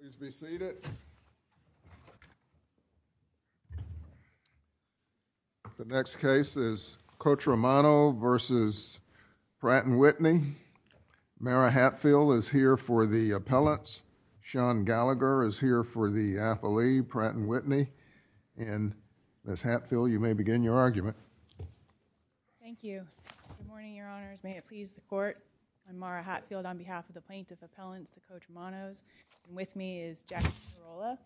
Please be seated. The next case is Cotromano v. Pratt & Whitney. Mara Hatfield is here for the appellants. Sean Gallagher is here for the appellee, Pratt & Whitney. And Ms. Hatfield, you may begin your argument. Thank you. Good morning, Your Honors. May it please the Court. I'm Mara Hatfield on behalf of the Plaintiff Appellants, the Cotromanos, and with me is Jack Carolla.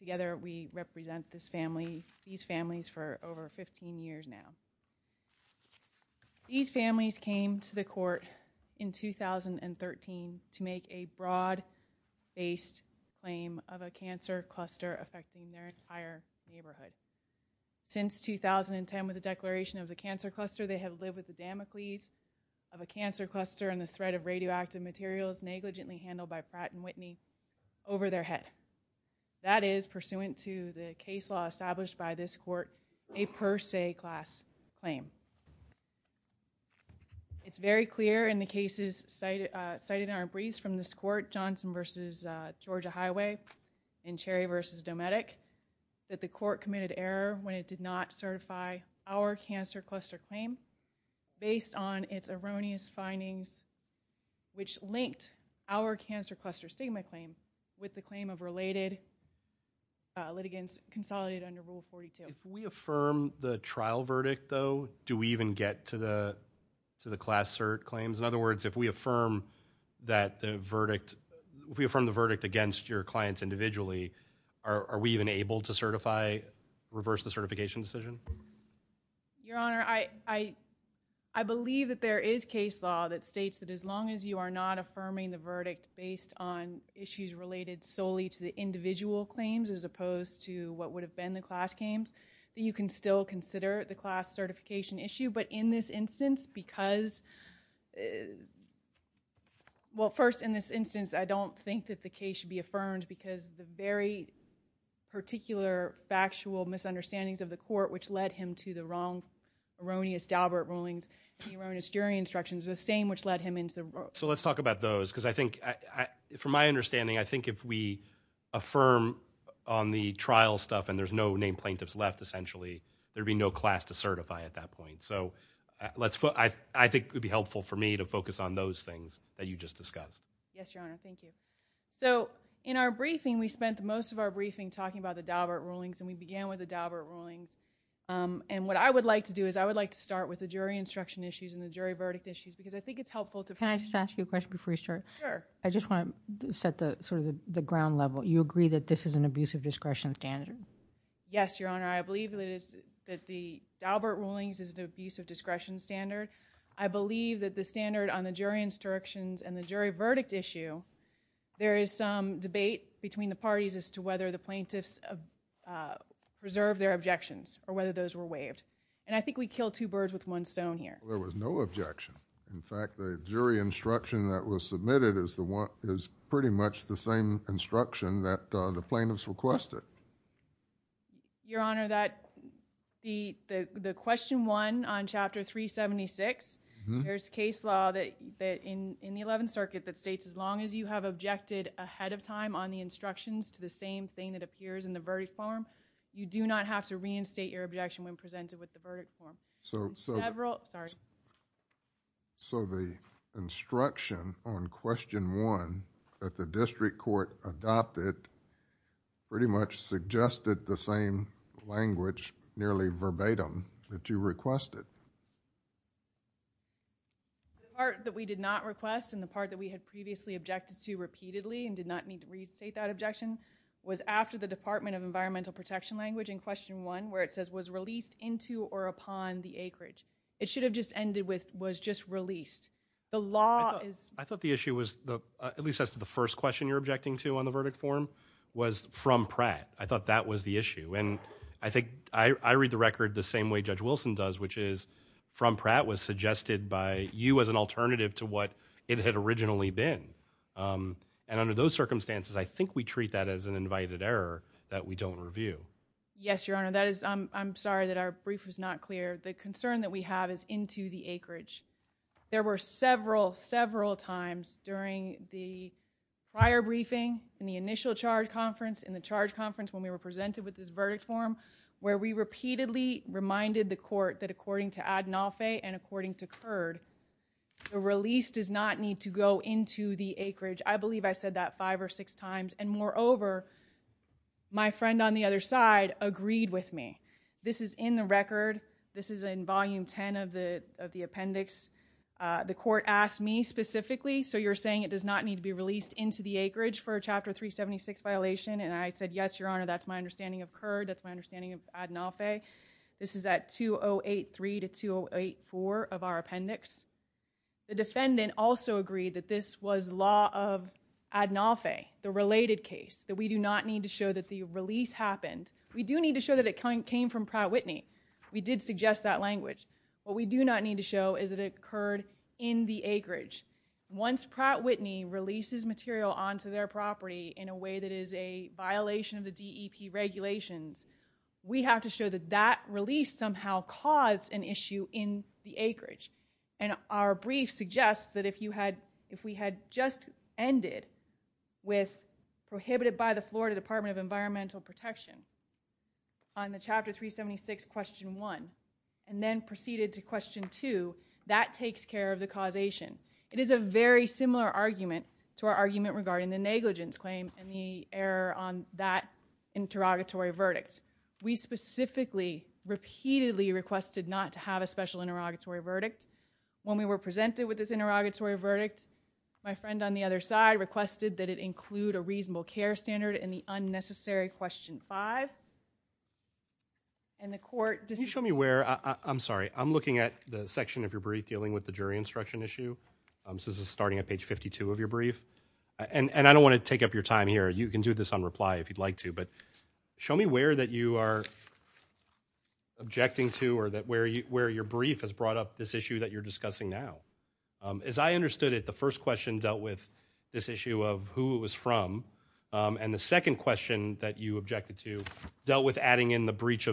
Together we represent these families for over 15 years now. These families came to the Court in 2013 to make a broad-based claim of a cancer cluster affecting their entire neighborhood. Since 2010, with the declaration of the cancer cluster, they have lived with the Damocles disease of a cancer cluster and the threat of radioactive materials negligently handled by Pratt & Whitney over their head. That is pursuant to the case law established by this Court, a per se class claim. It's very clear in the cases cited in our briefs from this Court, Johnson v. Georgia Highway and Cherry v. Dometic, that the Court committed error when it did not certify our cancer cluster claim based on its erroneous findings, which linked our cancer cluster stigma claim with the claim of related litigants consolidated under Rule 42. If we affirm the trial verdict, though, do we even get to the class cert claims? In other words, if we affirm the verdict against your clients individually, are we even able to reverse the certification decision? Your Honor, I believe that there is case law that states that as long as you are not affirming the verdict based on issues related solely to the individual claims as opposed to what would have been the class claims, that you can still consider the class certification issue. But in this instance, I don't think that the case should be affirmed because the very particular factual misunderstandings of the Court which led him to the wrong erroneous Daubert rulings and erroneous jury instructions is the same which led him into the wrong. So let's talk about those. Because I think, from my understanding, I think if we affirm on the trial stuff and there's no named plaintiffs left, essentially, there'd be no class to certify at that point. So I think it would be helpful for me to focus on those things that you just discussed. Yes, Your Honor. Thank you. So in our briefing, we spent most of our briefing talking about the Daubert rulings and we began with the Daubert rulings and what I would like to do is I would like to start with the jury instruction issues and the jury verdict issues because I think it's helpful to Can I just ask you a question before you start? Sure. I just want to set sort of the ground level. You agree that this is an abusive discretion standard? Yes, Your Honor. I believe that the Daubert rulings is an abusive discretion standard. I believe that the standard on the jury instructions and the jury verdict issue, there is some debate between the parties as to whether the plaintiffs preserved their objections or whether those were waived. And I think we killed two birds with one stone here. There was no objection. In fact, the jury instruction that was submitted is pretty much the same instruction that the plaintiffs requested. Your Honor, the question one on Chapter 376, there is case law in the Eleventh Circuit that states as long as you have objected ahead of time on the instructions to the same thing that appears in the verdict form, you do not have to reinstate your objection when presented with the verdict form. So the instruction on question one that the district court adopted pretty much suggested the same language nearly verbatim that you requested. The part that we did not request and the part that we had previously objected to repeatedly and did not need to reinstate that objection was after the Department of Environmental Protection language in question one where it says was released into or upon the acreage. It should have just ended with was just released. The law is I thought the issue was at least as to the first question you're objecting to on the verdict form was from Pratt. I thought that was the issue. And I think I read the record the same way Judge Wilson does, which is from Pratt was suggested by you as an alternative to what it had originally been. And under those circumstances, I think we treat that as an invited error that we don't Yes, Your Honor. That is I'm sorry that our brief was not clear. The concern that we have is into the acreage. There were several, several times during the prior briefing in the initial charge conference in the charge conference when we were presented with this verdict form where we repeatedly reminded the court that according to Adnolfi and according to curd, the release does not need to go into the acreage. I believe I said that five or six times. And moreover, my friend on the other side agreed with me. This is in the record. This is in volume 10 of the of the appendix. The court asked me specifically. So you're saying it does not need to be released into the acreage for a chapter 376 violation. And I said, Yes, Your Honor. That's my understanding of curd. That's my understanding of Adnolfi. This is at 2083 to 2084 of our appendix. The defendant also agreed that this was law of Adnolfi, the related case that we do not need to show that the release happened. We do need to show that it kind of came from Pratt Whitney. We did suggest that language, but we do not need to show is that it occurred in the acreage. Once Pratt Whitney releases material onto their property in a way that is a violation of the DEP regulations, we have to show that that release somehow caused an issue in the acreage. And our brief suggests that if you had if we had just ended with prohibited by the Florida Department of Environmental Protection on the chapter 376 question one and then proceeded to question two, that takes care of the causation. It is a very similar argument to our argument regarding the negligence claim and the error on that interrogatory verdict. We specifically, repeatedly requested not to have a special interrogatory verdict. When we were presented with this interrogatory verdict, my friend on the other side requested that it include a reasonable care standard in the unnecessary question five. And the court... Can you show me where... I'm sorry. I'm looking at the section of your brief dealing with the jury instruction issue. This is starting at page 52 of your brief. And I don't want to take up your time here. You can do this on reply if you'd like to. Show me where that you are objecting to or where your brief has brought up this issue that you're discussing now. As I understood it, the first question dealt with this issue of who it was from. And the second question that you objected to dealt with adding in the breach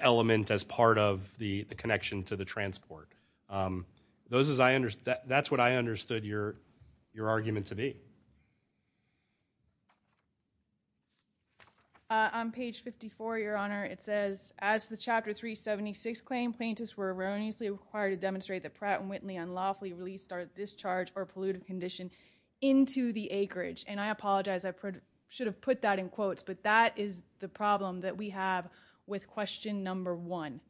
element as part of the connection to the transport. That's what I understood your argument to be. On page 54, your honor, it says, as the chapter 376 claim, plaintiffs were erroneously required to demonstrate that Pratt & Whitney unlawfully released our discharge or polluted condition into the acreage. And I apologize. I should have put that in quotes, but that is the problem that we have with question number one.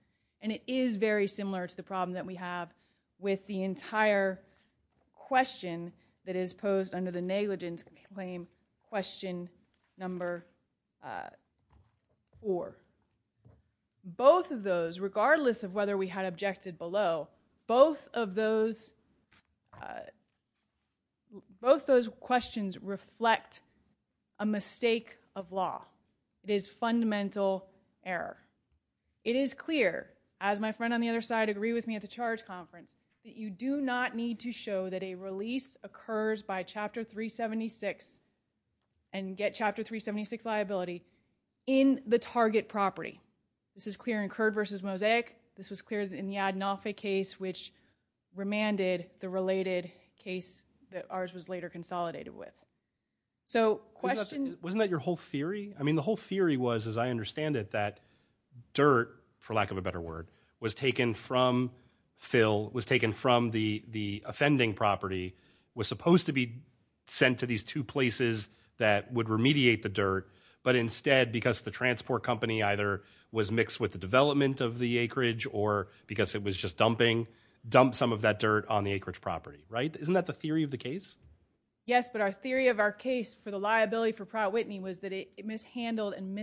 And it is very similar to the problem that we have with the entire question that is posed under the negligence claim question number four. Both of those, regardless of whether we had objected below, both of those questions reflect a mistake of law. It is fundamental error. It is clear, as my friend on the other side agreed with me at the charge conference, that you do not need to show that a release occurs by chapter 376 and get chapter 376 liability in the target property. This is clear in Curd v. Mosaic. This was clear in the Adnolfi case, which remanded the related case that ours was later consolidated with. So question- Wasn't that your whole theory? I mean, the whole theory was, as I understand it, that dirt, for lack of a better word, was taken from Phil, was taken from the offending property, was supposed to be sent to these two places that would remediate the dirt, but instead, because the transport company either was mixed with the development of the acreage or because it was just dumping, dumped some of that dirt on the acreage property, right? Isn't that the theory of the case? Yes. But our theory of our case for the liability for Pratt Whitney was that it mishandled and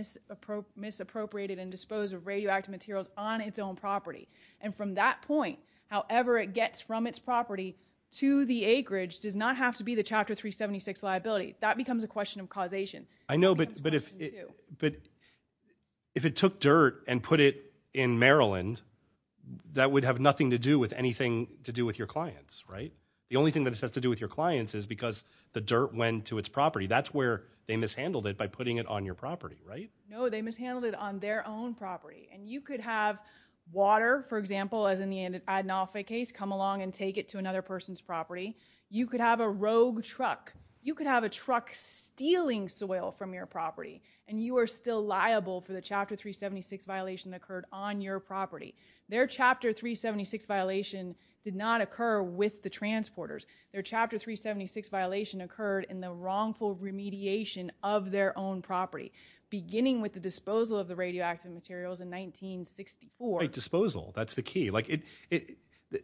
misappropriated and disposed of radioactive materials on its own property. And from that point, however it gets from its property to the acreage does not have to be the chapter 376 liability. That becomes a question of causation. I know, but if it took dirt and put it in Maryland, that would have nothing to do with anything to do with your clients, right? The only thing that it has to do with your clients is because the dirt went to its property. That's where they mishandled it by putting it on your property, right? No, they mishandled it on their own property. And you could have water, for example, as in the Adnolfi case, come along and take it to another person's property. You could have a rogue truck. You could have a truck stealing soil from your property. And you are still liable for the chapter 376 violation that occurred on your property. Their chapter 376 violation did not occur with the transporters. Their chapter 376 violation occurred in the wrongful remediation of their own property, beginning with the disposal of the radioactive materials in 1964. Right, disposal. That's the key.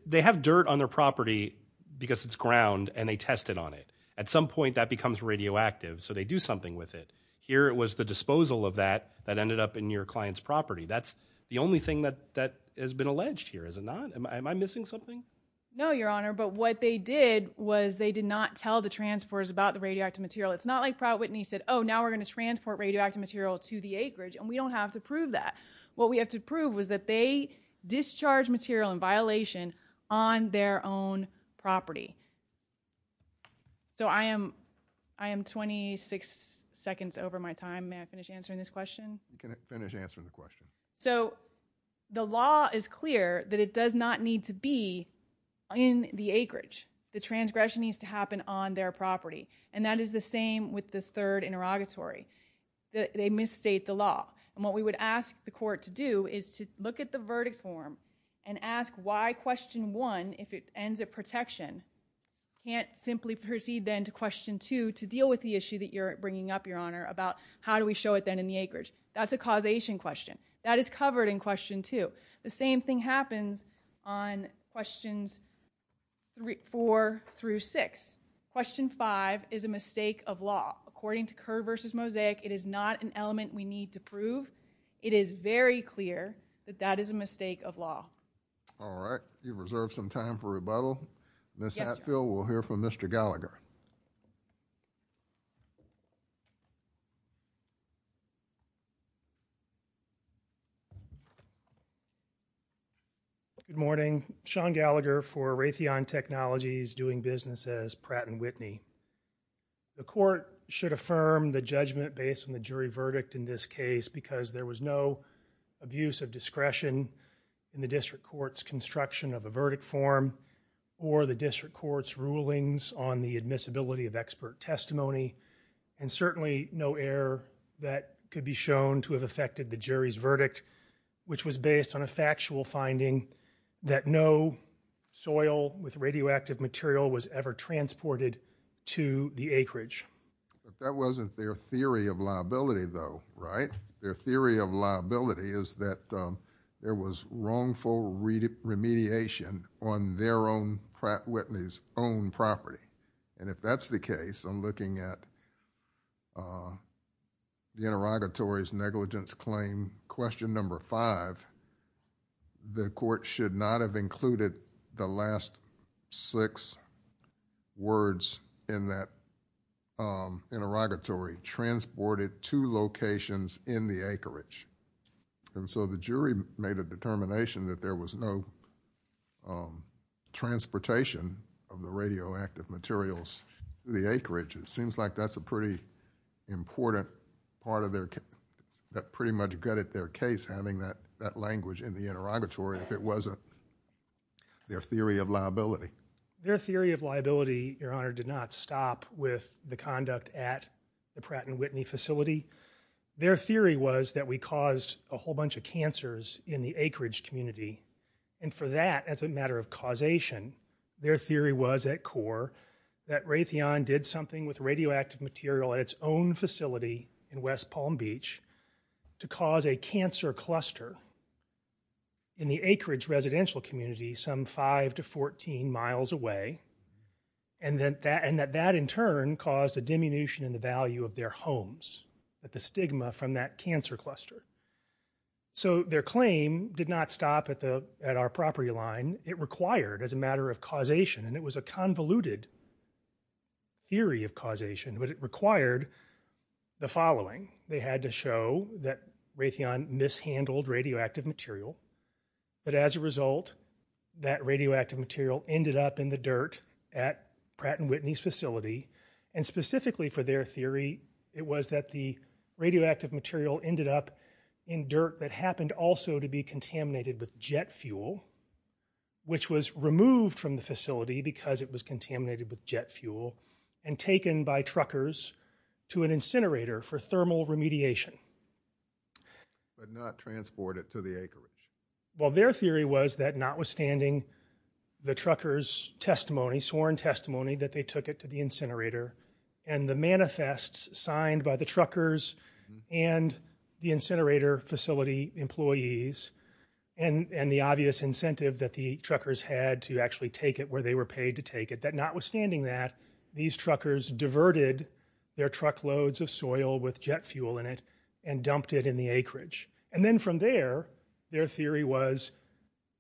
They have dirt on their property because it's ground, and they tested on it. At some point, that becomes radioactive, so they do something with it. Here it was the disposal of that that ended up in your client's property. That's the only thing that has been alleged here, is it not? Am I missing something? No, Your Honor. But what they did was they did not tell the transporters about the radioactive material. It's not like Pratt Whitney said, oh, now we're going to transport radioactive material to the acreage, and we don't have to prove that. What we have to prove was that they discharged material in violation on their own property. So I am 26 seconds over my time. May I finish answering this question? You can finish answering the question. So the law is clear that it does not need to be in the acreage. The transgression needs to happen on their property. And that is the same with the third interrogatory. They misstate the law. And what we would ask the court to do is to look at the verdict form and ask why question one, if it ends at protection, can't simply proceed then to question two to deal with the issue that you're bringing up, Your Honor, about how do we show it then in the acreage? That's a causation question. That is covered in question two. The same thing happens on questions four through six. Question five is a mistake of law. According to Kerr v. Mosaic, it is not an element we need to prove. It is very clear that that is a mistake of law. All right. You've reserved some time for rebuttal. Ms. Hatfield, we'll hear from Mr. Gallagher. Good morning. Sean Gallagher for Raytheon Technologies doing business as Pratt & Whitney. The court should affirm the judgment based on the jury verdict in this case because there was no abuse of discretion in the district court's construction of a verdict form or the district court's rulings on the admissibility of expert testimony and certainly no error that could be shown to have affected the jury's verdict which was based on a factual finding that no soil with radioactive material was ever transported to the acreage. That wasn't their theory of liability though, right? Their theory of liability is that there was wrongful remediation on their own Pratt & Whitney's own property. If that's the case, I'm looking at the interrogatory's negligence claim question number five, the court should not have included the last six words in that interrogatory, transported to locations in the acreage. The jury made a determination that there was no transportation of the radioactive materials to the acreage. It seems like that's a pretty important part of their case, that pretty much got at their case having that language in the interrogatory if it wasn't their theory of liability. Their theory of liability, Your Honor, did not stop with the conduct at the Pratt & Whitney facility. Their theory was that we caused a whole bunch of cancers in the acreage community and for that as a matter of causation, their theory was at core that Raytheon did something with radioactive material at its own facility in West Palm Beach to cause a cancer cluster in the acreage residential community some five to 14 miles away and that in turn caused a diminution in the value of their homes at the stigma from that cancer cluster. So their claim did not stop at our property line. It required as a matter of causation and it was a convoluted theory of causation but it required the following. They had to show that Raytheon mishandled radioactive material but as a result, that radioactive material ended up in the dirt at Pratt & Whitney's facility and specifically for their theory, it was that the radioactive material ended up in dirt that happened also to be contaminated with jet fuel which was removed from the facility because it was contaminated with jet fuel and taken by truckers to an incinerator for thermal remediation. But not transported to the acreage. Well, their theory was that notwithstanding the truckers testimony, sworn testimony that they took it to the incinerator and the manifests signed by the truckers and the incinerator facility employees and the obvious incentive that the truckers had to actually take it where they were paid to take it, that notwithstanding that, these truckers diverted their truckloads of soil with jet fuel in it and dumped it in the acreage. And then from there, their theory was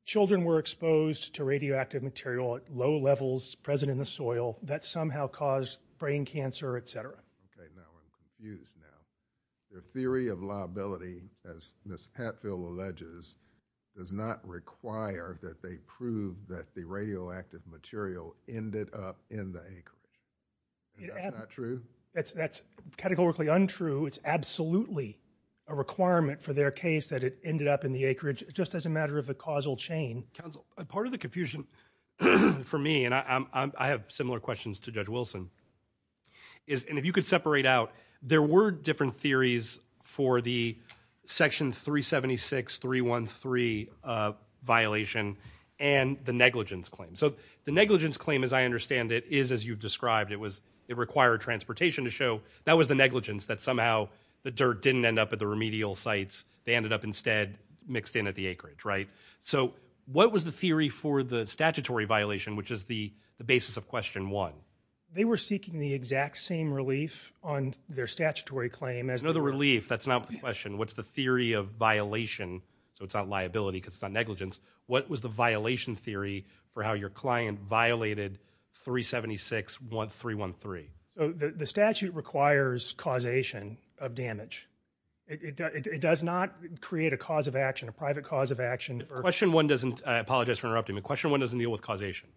children were exposed to radioactive material at low levels present in the soil that somehow caused brain cancer, etc. Okay, now I'm confused now. The theory of liability as Ms. Hatfield alleges does not require that they prove that the radioactive material ended up in the acreage. That's not true? That's categorically untrue. It's absolutely a requirement for their case that it ended up in the acreage just as a matter of a causal chain. Part of the confusion for me, and I have similar questions to Judge Wilson, is, and if you could separate out, there were different theories for the Section 376.313 violation and the negligence claim. So the negligence claim, as I understand it, is as you've described. It required transportation to show that was the negligence that somehow the dirt didn't end up at the remedial sites. They ended up instead mixed in at the acreage, right? So what was the theory for the statutory violation, which is the basis of question one? They were seeking the exact same relief on their statutory claim as... No, the relief, that's not the question. What's the theory of violation? So it's not liability because it's not negligence. What was the violation theory for how your client violated 376.313? So the statute requires causation of damage. It does not create a cause of action, a private cause of action, Question one doesn't, I apologize for interrupting, but question one doesn't deal with causation.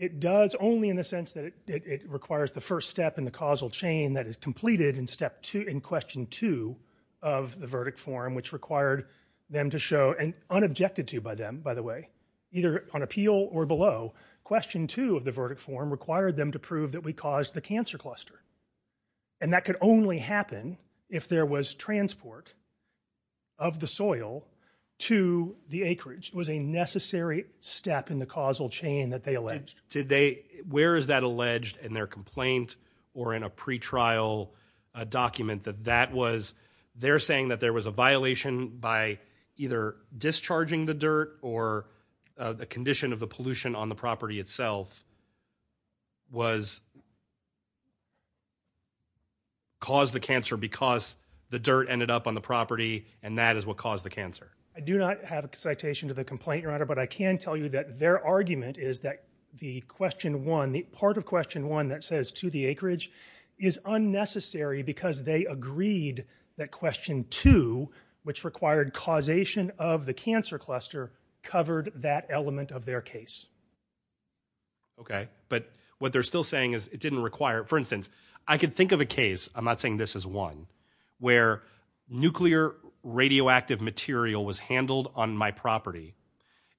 It does only in the sense that it requires the first step in the causal chain that is completed in question two of the verdict form, which required them to show, and unobjected to by them, by the way, either on appeal or below, question two of the verdict form required them to prove that we caused the cancer cluster. And that could only happen if there was transport of the soil to the acreage. It was a necessary step in the causal chain that they alleged. Did they, where is that alleged in their complaint or in a pretrial document that that was, they're saying that there was a violation by either discharging the dirt or the condition of the pollution on the property itself was caused the cancer because the dirt ended up on the property and that is what caused the cancer? I do not have a citation to the complaint, Your Honor, but I can tell you that their argument is that the question one, the part of question one that says to the acreage is unnecessary because they agreed that question two, which required causation of the cancer cluster, covered that element of their case. Okay, but what they're still saying is it didn't require, for instance, I could think of a case, I'm not saying this is one, where nuclear radioactive material was handled on my property.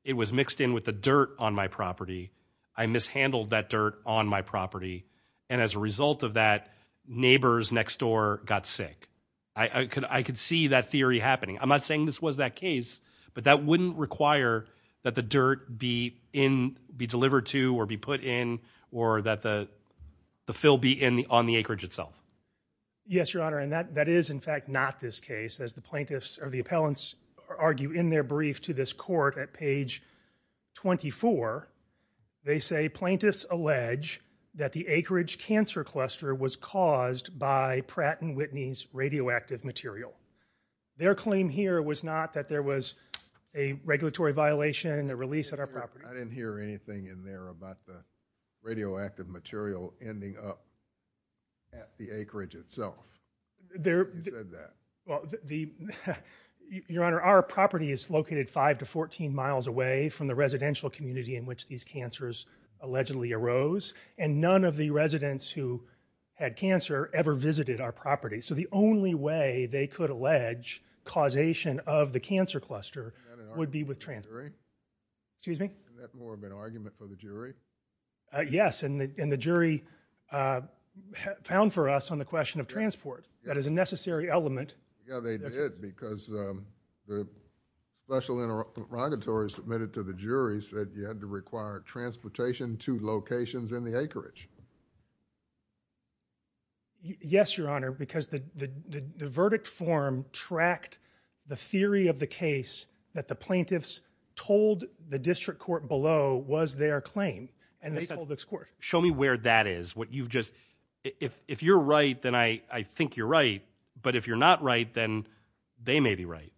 It was mixed in with the dirt on my property. I mishandled that dirt on my property. And as a result of that, neighbors next door got sick. I could see that theory happening. I'm not saying this was that case, but that wouldn't require that the dirt be delivered to or be put in or that the fill be on the acreage itself. Yes, Your Honor, and that is in fact not this case, as the plaintiffs or the appellants argue in their brief to this court at page 24. They say plaintiffs allege that the acreage cancer cluster was caused by Pratt & Whitney's radioactive material. Their claim here was not that there was a regulatory violation and a release at our property. I didn't hear anything in there about the radioactive material ending up at the acreage itself. You said that. Well, Your Honor, our property is located 5 to 14 miles away from the residential community in which these cancers allegedly arose. And none of the residents who had cancer ever visited our property. So the only way they could allege causation of the cancer cluster would be with transit. Excuse me? Isn't that more of an argument for the jury? Yes, and the jury found for us on the question of transport. That is a necessary element. Yeah, they did because the special interrogatory submitted to the jury said you had to require transportation to locations in the acreage. Yes, Your Honor, because the verdict form tracked the theory of the case that the plaintiffs told the district court below was their claim and they told this court. Show me where that is. If you're right, then I think you're right. But if you're not right, then they may be right.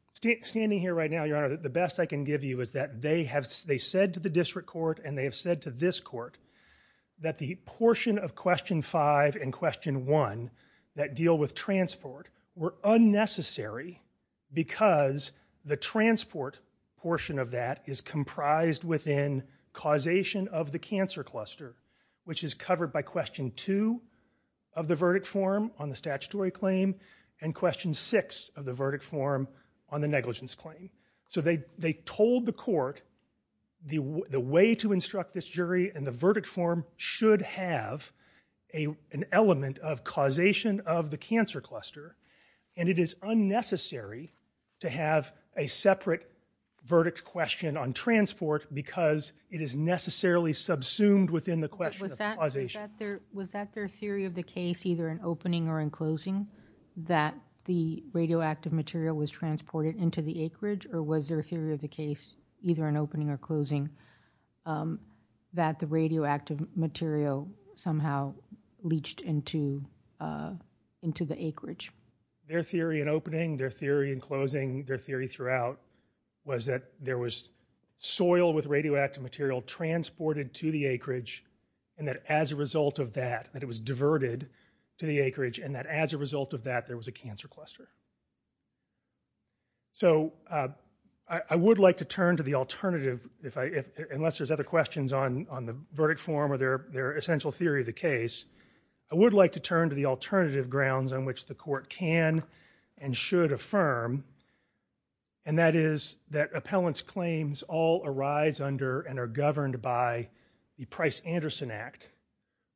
Standing here right now, Your Honor, the best I can give you is that they said to the district court and they have said to this court that the portion of question 5 and question 1 that deal with transport were unnecessary because the transport portion of that is comprised within causation of the cancer cluster, which is covered by question 2 of the verdict form on the statutory claim and question 6 of the verdict form on the negligence claim. And the verdict form should have an element of causation of the cancer cluster and it is unnecessary to have a separate verdict question on transport because it is necessarily subsumed within the question of causation. Was that their theory of the case either in opening or in closing that the radioactive material was transported into the acreage or was their theory of the case either in opening or closing that the radioactive material somehow leached into the acreage? Their theory in opening, their theory in closing, their theory throughout was that there was soil with radioactive material transported to the acreage and that as a result of that, that it was diverted to the acreage and that as a result of that, there was a cancer cluster. So I would like to turn to the alternative, unless there's other questions on the verdict form or their essential theory of the case, I would like to turn to the alternative grounds on which the court can and should affirm and that is that appellant's claims all arise under and are governed by the Price-Anderson Act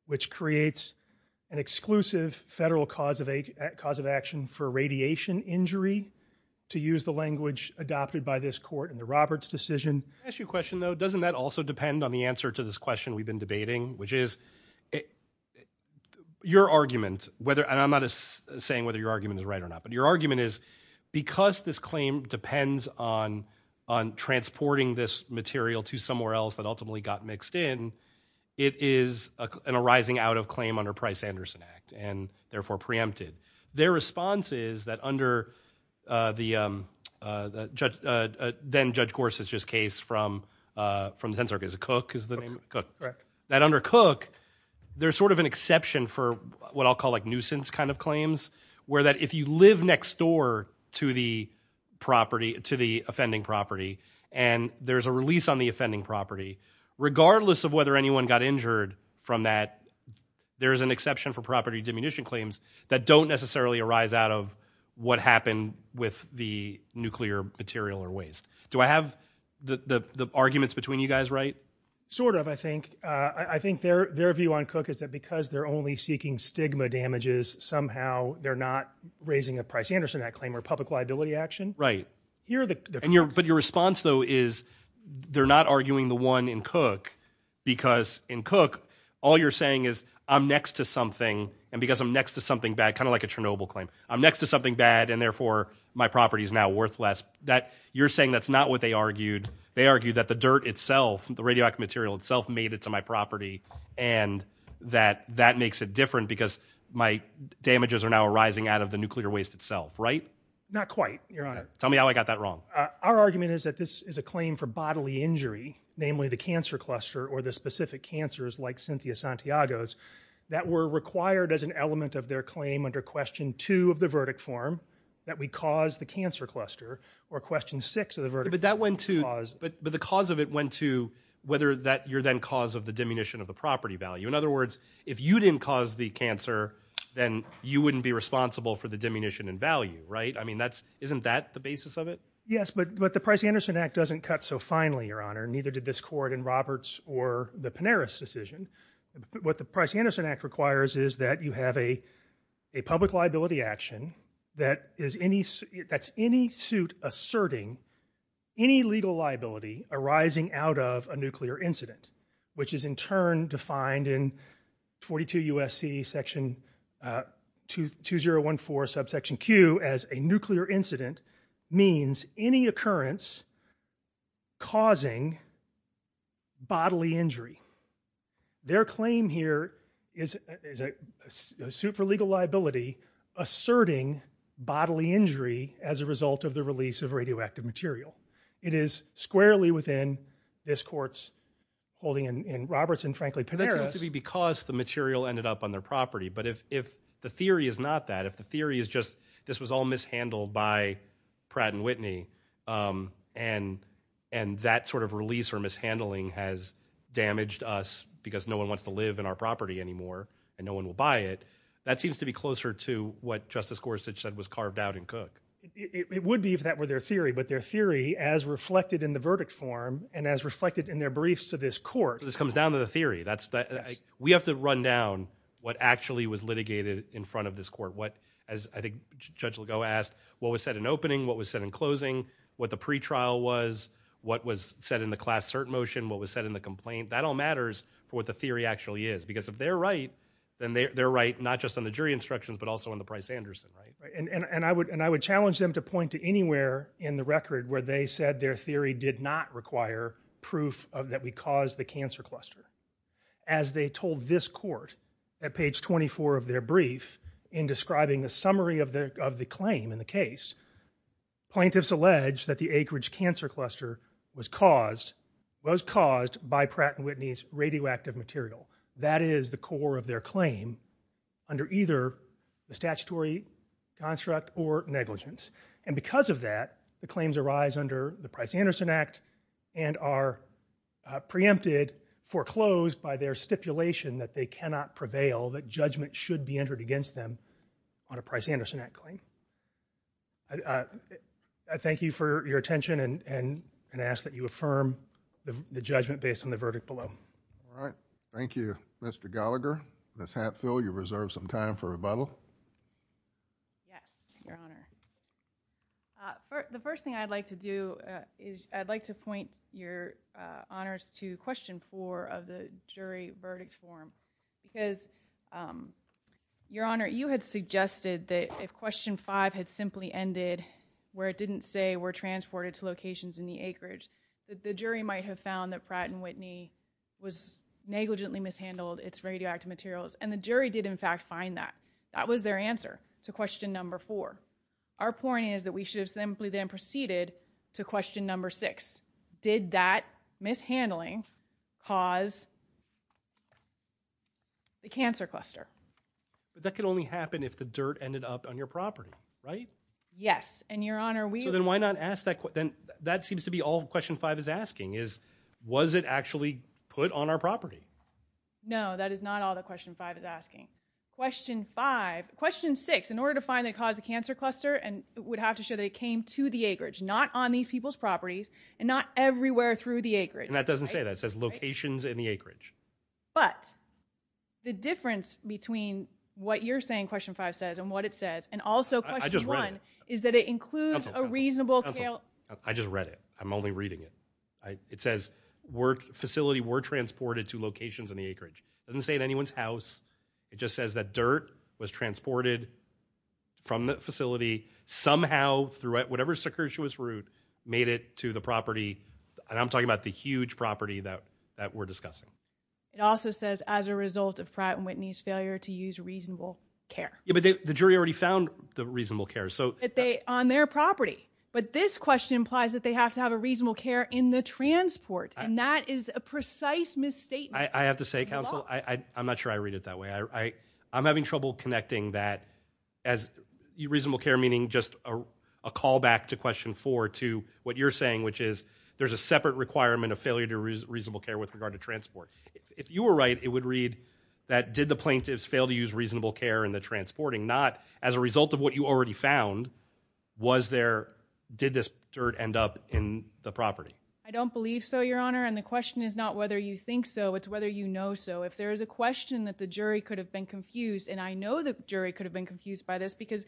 which creates an exclusive federal cause of action for radiation injury, to use the language adopted by this court in the Roberts decision. Can I ask you a question though, doesn't that also depend on the answer to this question we've been debating which is your argument, and I'm not saying whether your argument is right or not, but your argument is because this claim depends on transporting this material to somewhere else that ultimately got mixed in, it is an arising out of claim under Price-Anderson Act and therefore preempted. Their response is that under the judge, then Judge Gorsuch's case from the 10th Circuit, that under Cook, there's sort of an exception for what I'll call like nuisance kind of claims, where that if you live next door to the property, to the offending property, and there's a release on the offending property, regardless of whether anyone got injured from that, there's an exception for property diminution claims that don't necessarily arise out of what happened with the nuclear material or waste. Do I have the arguments between you guys right? Sort of, I think. I think their view on Cook is that because they're only seeking stigma damages, somehow they're not raising a Price-Anderson Act claim or public liability action. Right. But your response though is they're not arguing the one in Cook because in Cook, all you're saying is I'm next to something and because I'm next to something bad, kind of like a Chernobyl claim, I'm next to something bad and therefore my property is now worthless. You're saying that's not what they argued. They argued that the dirt itself, the radioactive material itself made it to my property and that that makes it different because my damages are now arising out of the nuclear waste itself, right? Not quite, Your Honor. Tell me how I got that wrong. Our argument is that this is a claim for bodily injury, namely the cancer cluster or the specific cancers like Cynthia Santiago's that were required as an element of their claim under question two of the verdict form that we cause the cancer cluster or question six of the verdict form. But the cause of it went to whether that you're then cause of the diminution of the property value. In other words, if you didn't cause the cancer then you wouldn't be responsible for the diminution in value, right? Isn't that the basis of it? Yes, but the Price-Anderson Act doesn't cut so finely, Your Honor. Neither did this court in Roberts or the Pineris decision. What the Price-Anderson Act requires is that you have a public liability action that's any suit asserting any legal liability arising out of a nuclear incident which is in turn defined in 42 U.S.C. section 2014 subsection Q as a nuclear incident means any occurrence causing bodily injury. Their claim here is a suit for legal liability asserting bodily injury as a result of the release of radioactive material. It is squarely within this court's holding in Roberts and frankly Pineris. That seems to be because the material ended up on their property, but if the theory is not that, if the theory is just this was all mishandled by Pratt & Whitney and that sort of release or mishandling has damaged us because no one wants to live in our property anymore and no one will buy it that seems to be closer to what Justice Gorsuch said was carved out in Cook. It would be if that were their theory, but their theory as reflected in the verdict form and as reflected in their briefs to this court. This comes down to the theory. We have to run down what actually was litigated in front of this court. As I think Judge Legault asked, what was said in opening, what was said in closing, what the pretrial was, what was said in the class cert motion, what was said in the complaint. That all matters for what the theory actually is because if they're right, then they're right not just on the jury instructions, but also on the Price-Anderson. And I would challenge them to point to anywhere in the record where they said their theory did not require proof that we caused the cancer cluster. As they told this court at page 24 of their brief in describing the summary of the claim in the case, plaintiffs allege that the acreage cancer cluster was caused by Pratt & Whitney's radioactive material. That is the core of their claim under either the statutory construct or negligence. And because of that, the claims arise under the Price-Anderson Act and are preempted, foreclosed by their claim. And I would challenge other evidence that they have that does not prevail that judgment should be entered against them on a Price-Anderson Act claim. I thank you for your attention and ask that you affirm the judgment based on the verdict below. All right. Thank you, Mr. Gallagher. Ms. Hatfield, you reserve some time for rebuttal. Yes, Your Honor. The first thing I'd like to do is I'd like to point Your Honors to question 4 of the jury verdict form because Your Honor, you had suggested that if question 5 had simply ended where it didn't say were transported to locations in the acreage, that the jury might have found that Pratt & Whitney was negligently mishandled its radioactive materials and the jury did in fact find that. That was their answer to question number 4. Our point is that we should have simply then proceeded to question number 6. Did that mishandling cause the cancer cluster? But that could only happen if the dirt ended up on your property, right? Yes, and Your Honor we- So then why not ask that- that seems to be all question 5 is asking is was it actually put on our property? No, that is not all that question 5 is asking. Question 5- question 6 in order to find that it caused the cancer cluster it would have to show that it came to the acreage not on these people's properties and not everywhere through the acreage. And that doesn't say that. It says locations in the acreage. But the difference between what you're saying question 5 says and what it says and also question 1 is that it includes a reasonable- I just read it. I'm only reading it. It says facility were transported to locations in the acreage. It doesn't say in anyone's house. It just says that dirt was transported from the facility somehow through whatever route made it to the property and I'm talking about the huge property that we're discussing. It also says as a result of Pratt & Whitney's failure to use reasonable care. Yeah, but the jury already found the reasonable care. That they- on their property. But this question implies that they have to have a reasonable care in the transport and that is a I'm not sure I read it that way. I'm having trouble connecting that as reasonable care meaning just a callback to question 4 to what you're saying which is there's a separate requirement of failure to reasonable care with regard to transport. If you were right, it would read that did the plaintiffs fail to use reasonable care in the transporting? Not as a result of what you already found. Was there- did this dirt end up in the property? I don't believe so, your honor. And the question is not whether you think so, it's whether you know so. If there is a question that the jury could have been confused and I know the jury could have been confused by this because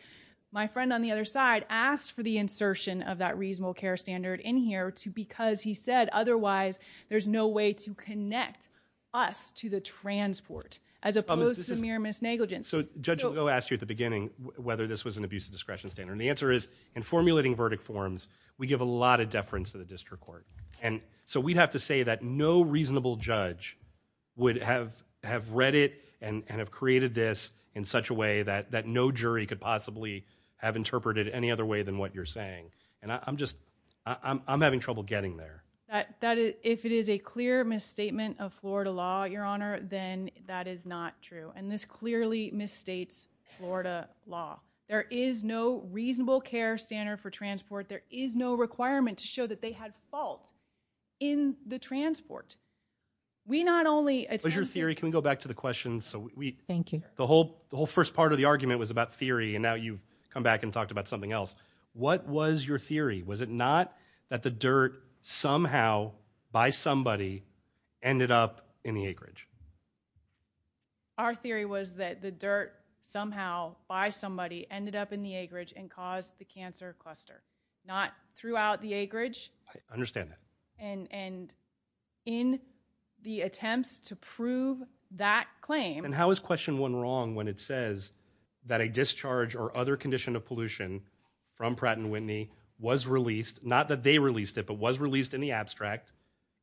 my friend on the other side asked for the insertion of that reasonable care standard in here because he said otherwise there's no way to connect us to the transport as opposed to mere misnegligence. So Judge Legault asked you at the beginning whether this was an abuse of discretion standard and the answer is in formulating verdict forms, we give a lot of deference to the district court. And so we'd have to say that no reasonable judge would have read it and have created this in such a way that no jury could possibly have interpreted any other way than what you're saying. And I'm just- I'm having trouble getting there. If it is a clear misstatement of Florida law, your honor, then that is not true. And this clearly misstates Florida law. There is no reasonable care standard for transport. There is no requirement to show that they had fault in the transport. We not only- For your theory, can we go back to the question? Thank you. The whole first part of the argument was about theory and now you've come back and talked about something else. What was your theory? Was it not that the dirt somehow by somebody ended up in the acreage? Our theory was that the dirt somehow by somebody ended up in the acreage and caused the cancer cluster. Not throughout the acreage. I understand that. And in the attempts to prove that claim- And how is question one wrong when it says that a discharge or other condition of pollution from Pratt & Whitney was released, not that they released it, but was released in the abstract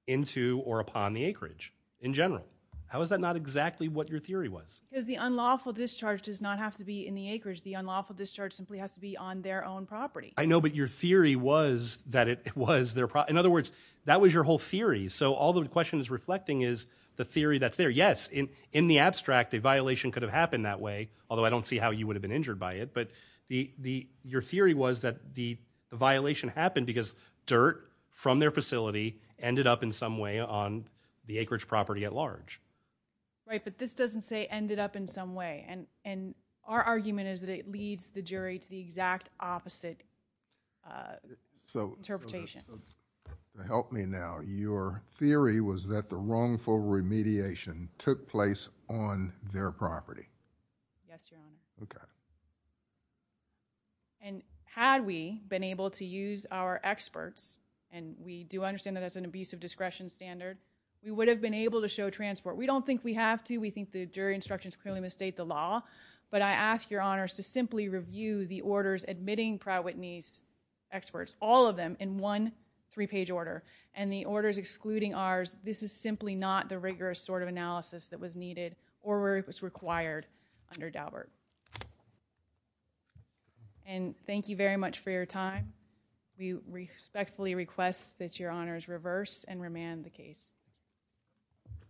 into or upon the acreage in general? How is that not exactly what your theory was? Because the unlawful discharge does not have to be in the acreage. The unlawful discharge simply has to be on their own property. I know, but your theory was that it was their- In other words, that was your whole theory. So all the question is reflecting is the theory that's there. Yes, in the abstract, a violation could have happened that way, although I don't see how you would have been injured by it, but your theory was that the violation happened because dirt from their facility ended up in some way on the acreage property at large. But this doesn't say ended up in some way. Our argument is that it leads the jury to the exact opposite interpretation. To help me now, your theory was that the wrongful remediation took place on their property. Yes, Your Honor. Okay. Had we been able to use our experts, and we do understand that that's an abusive discretion standard, we would have been able to show transport. We don't think we have to. We think the jury instructions clearly misstate the law, but I ask Your Honor to simply review the orders admitting Pratt-Whitney's experts, all of them in one three-page order, and the orders excluding ours, this is simply not the rigorous sort of analysis that was needed or was required under Daubert. And thank you very much for your time. We respectfully request that Your Honor's reverse and remand the case.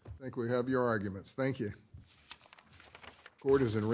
I think we have your arguments. Thank you. Court is in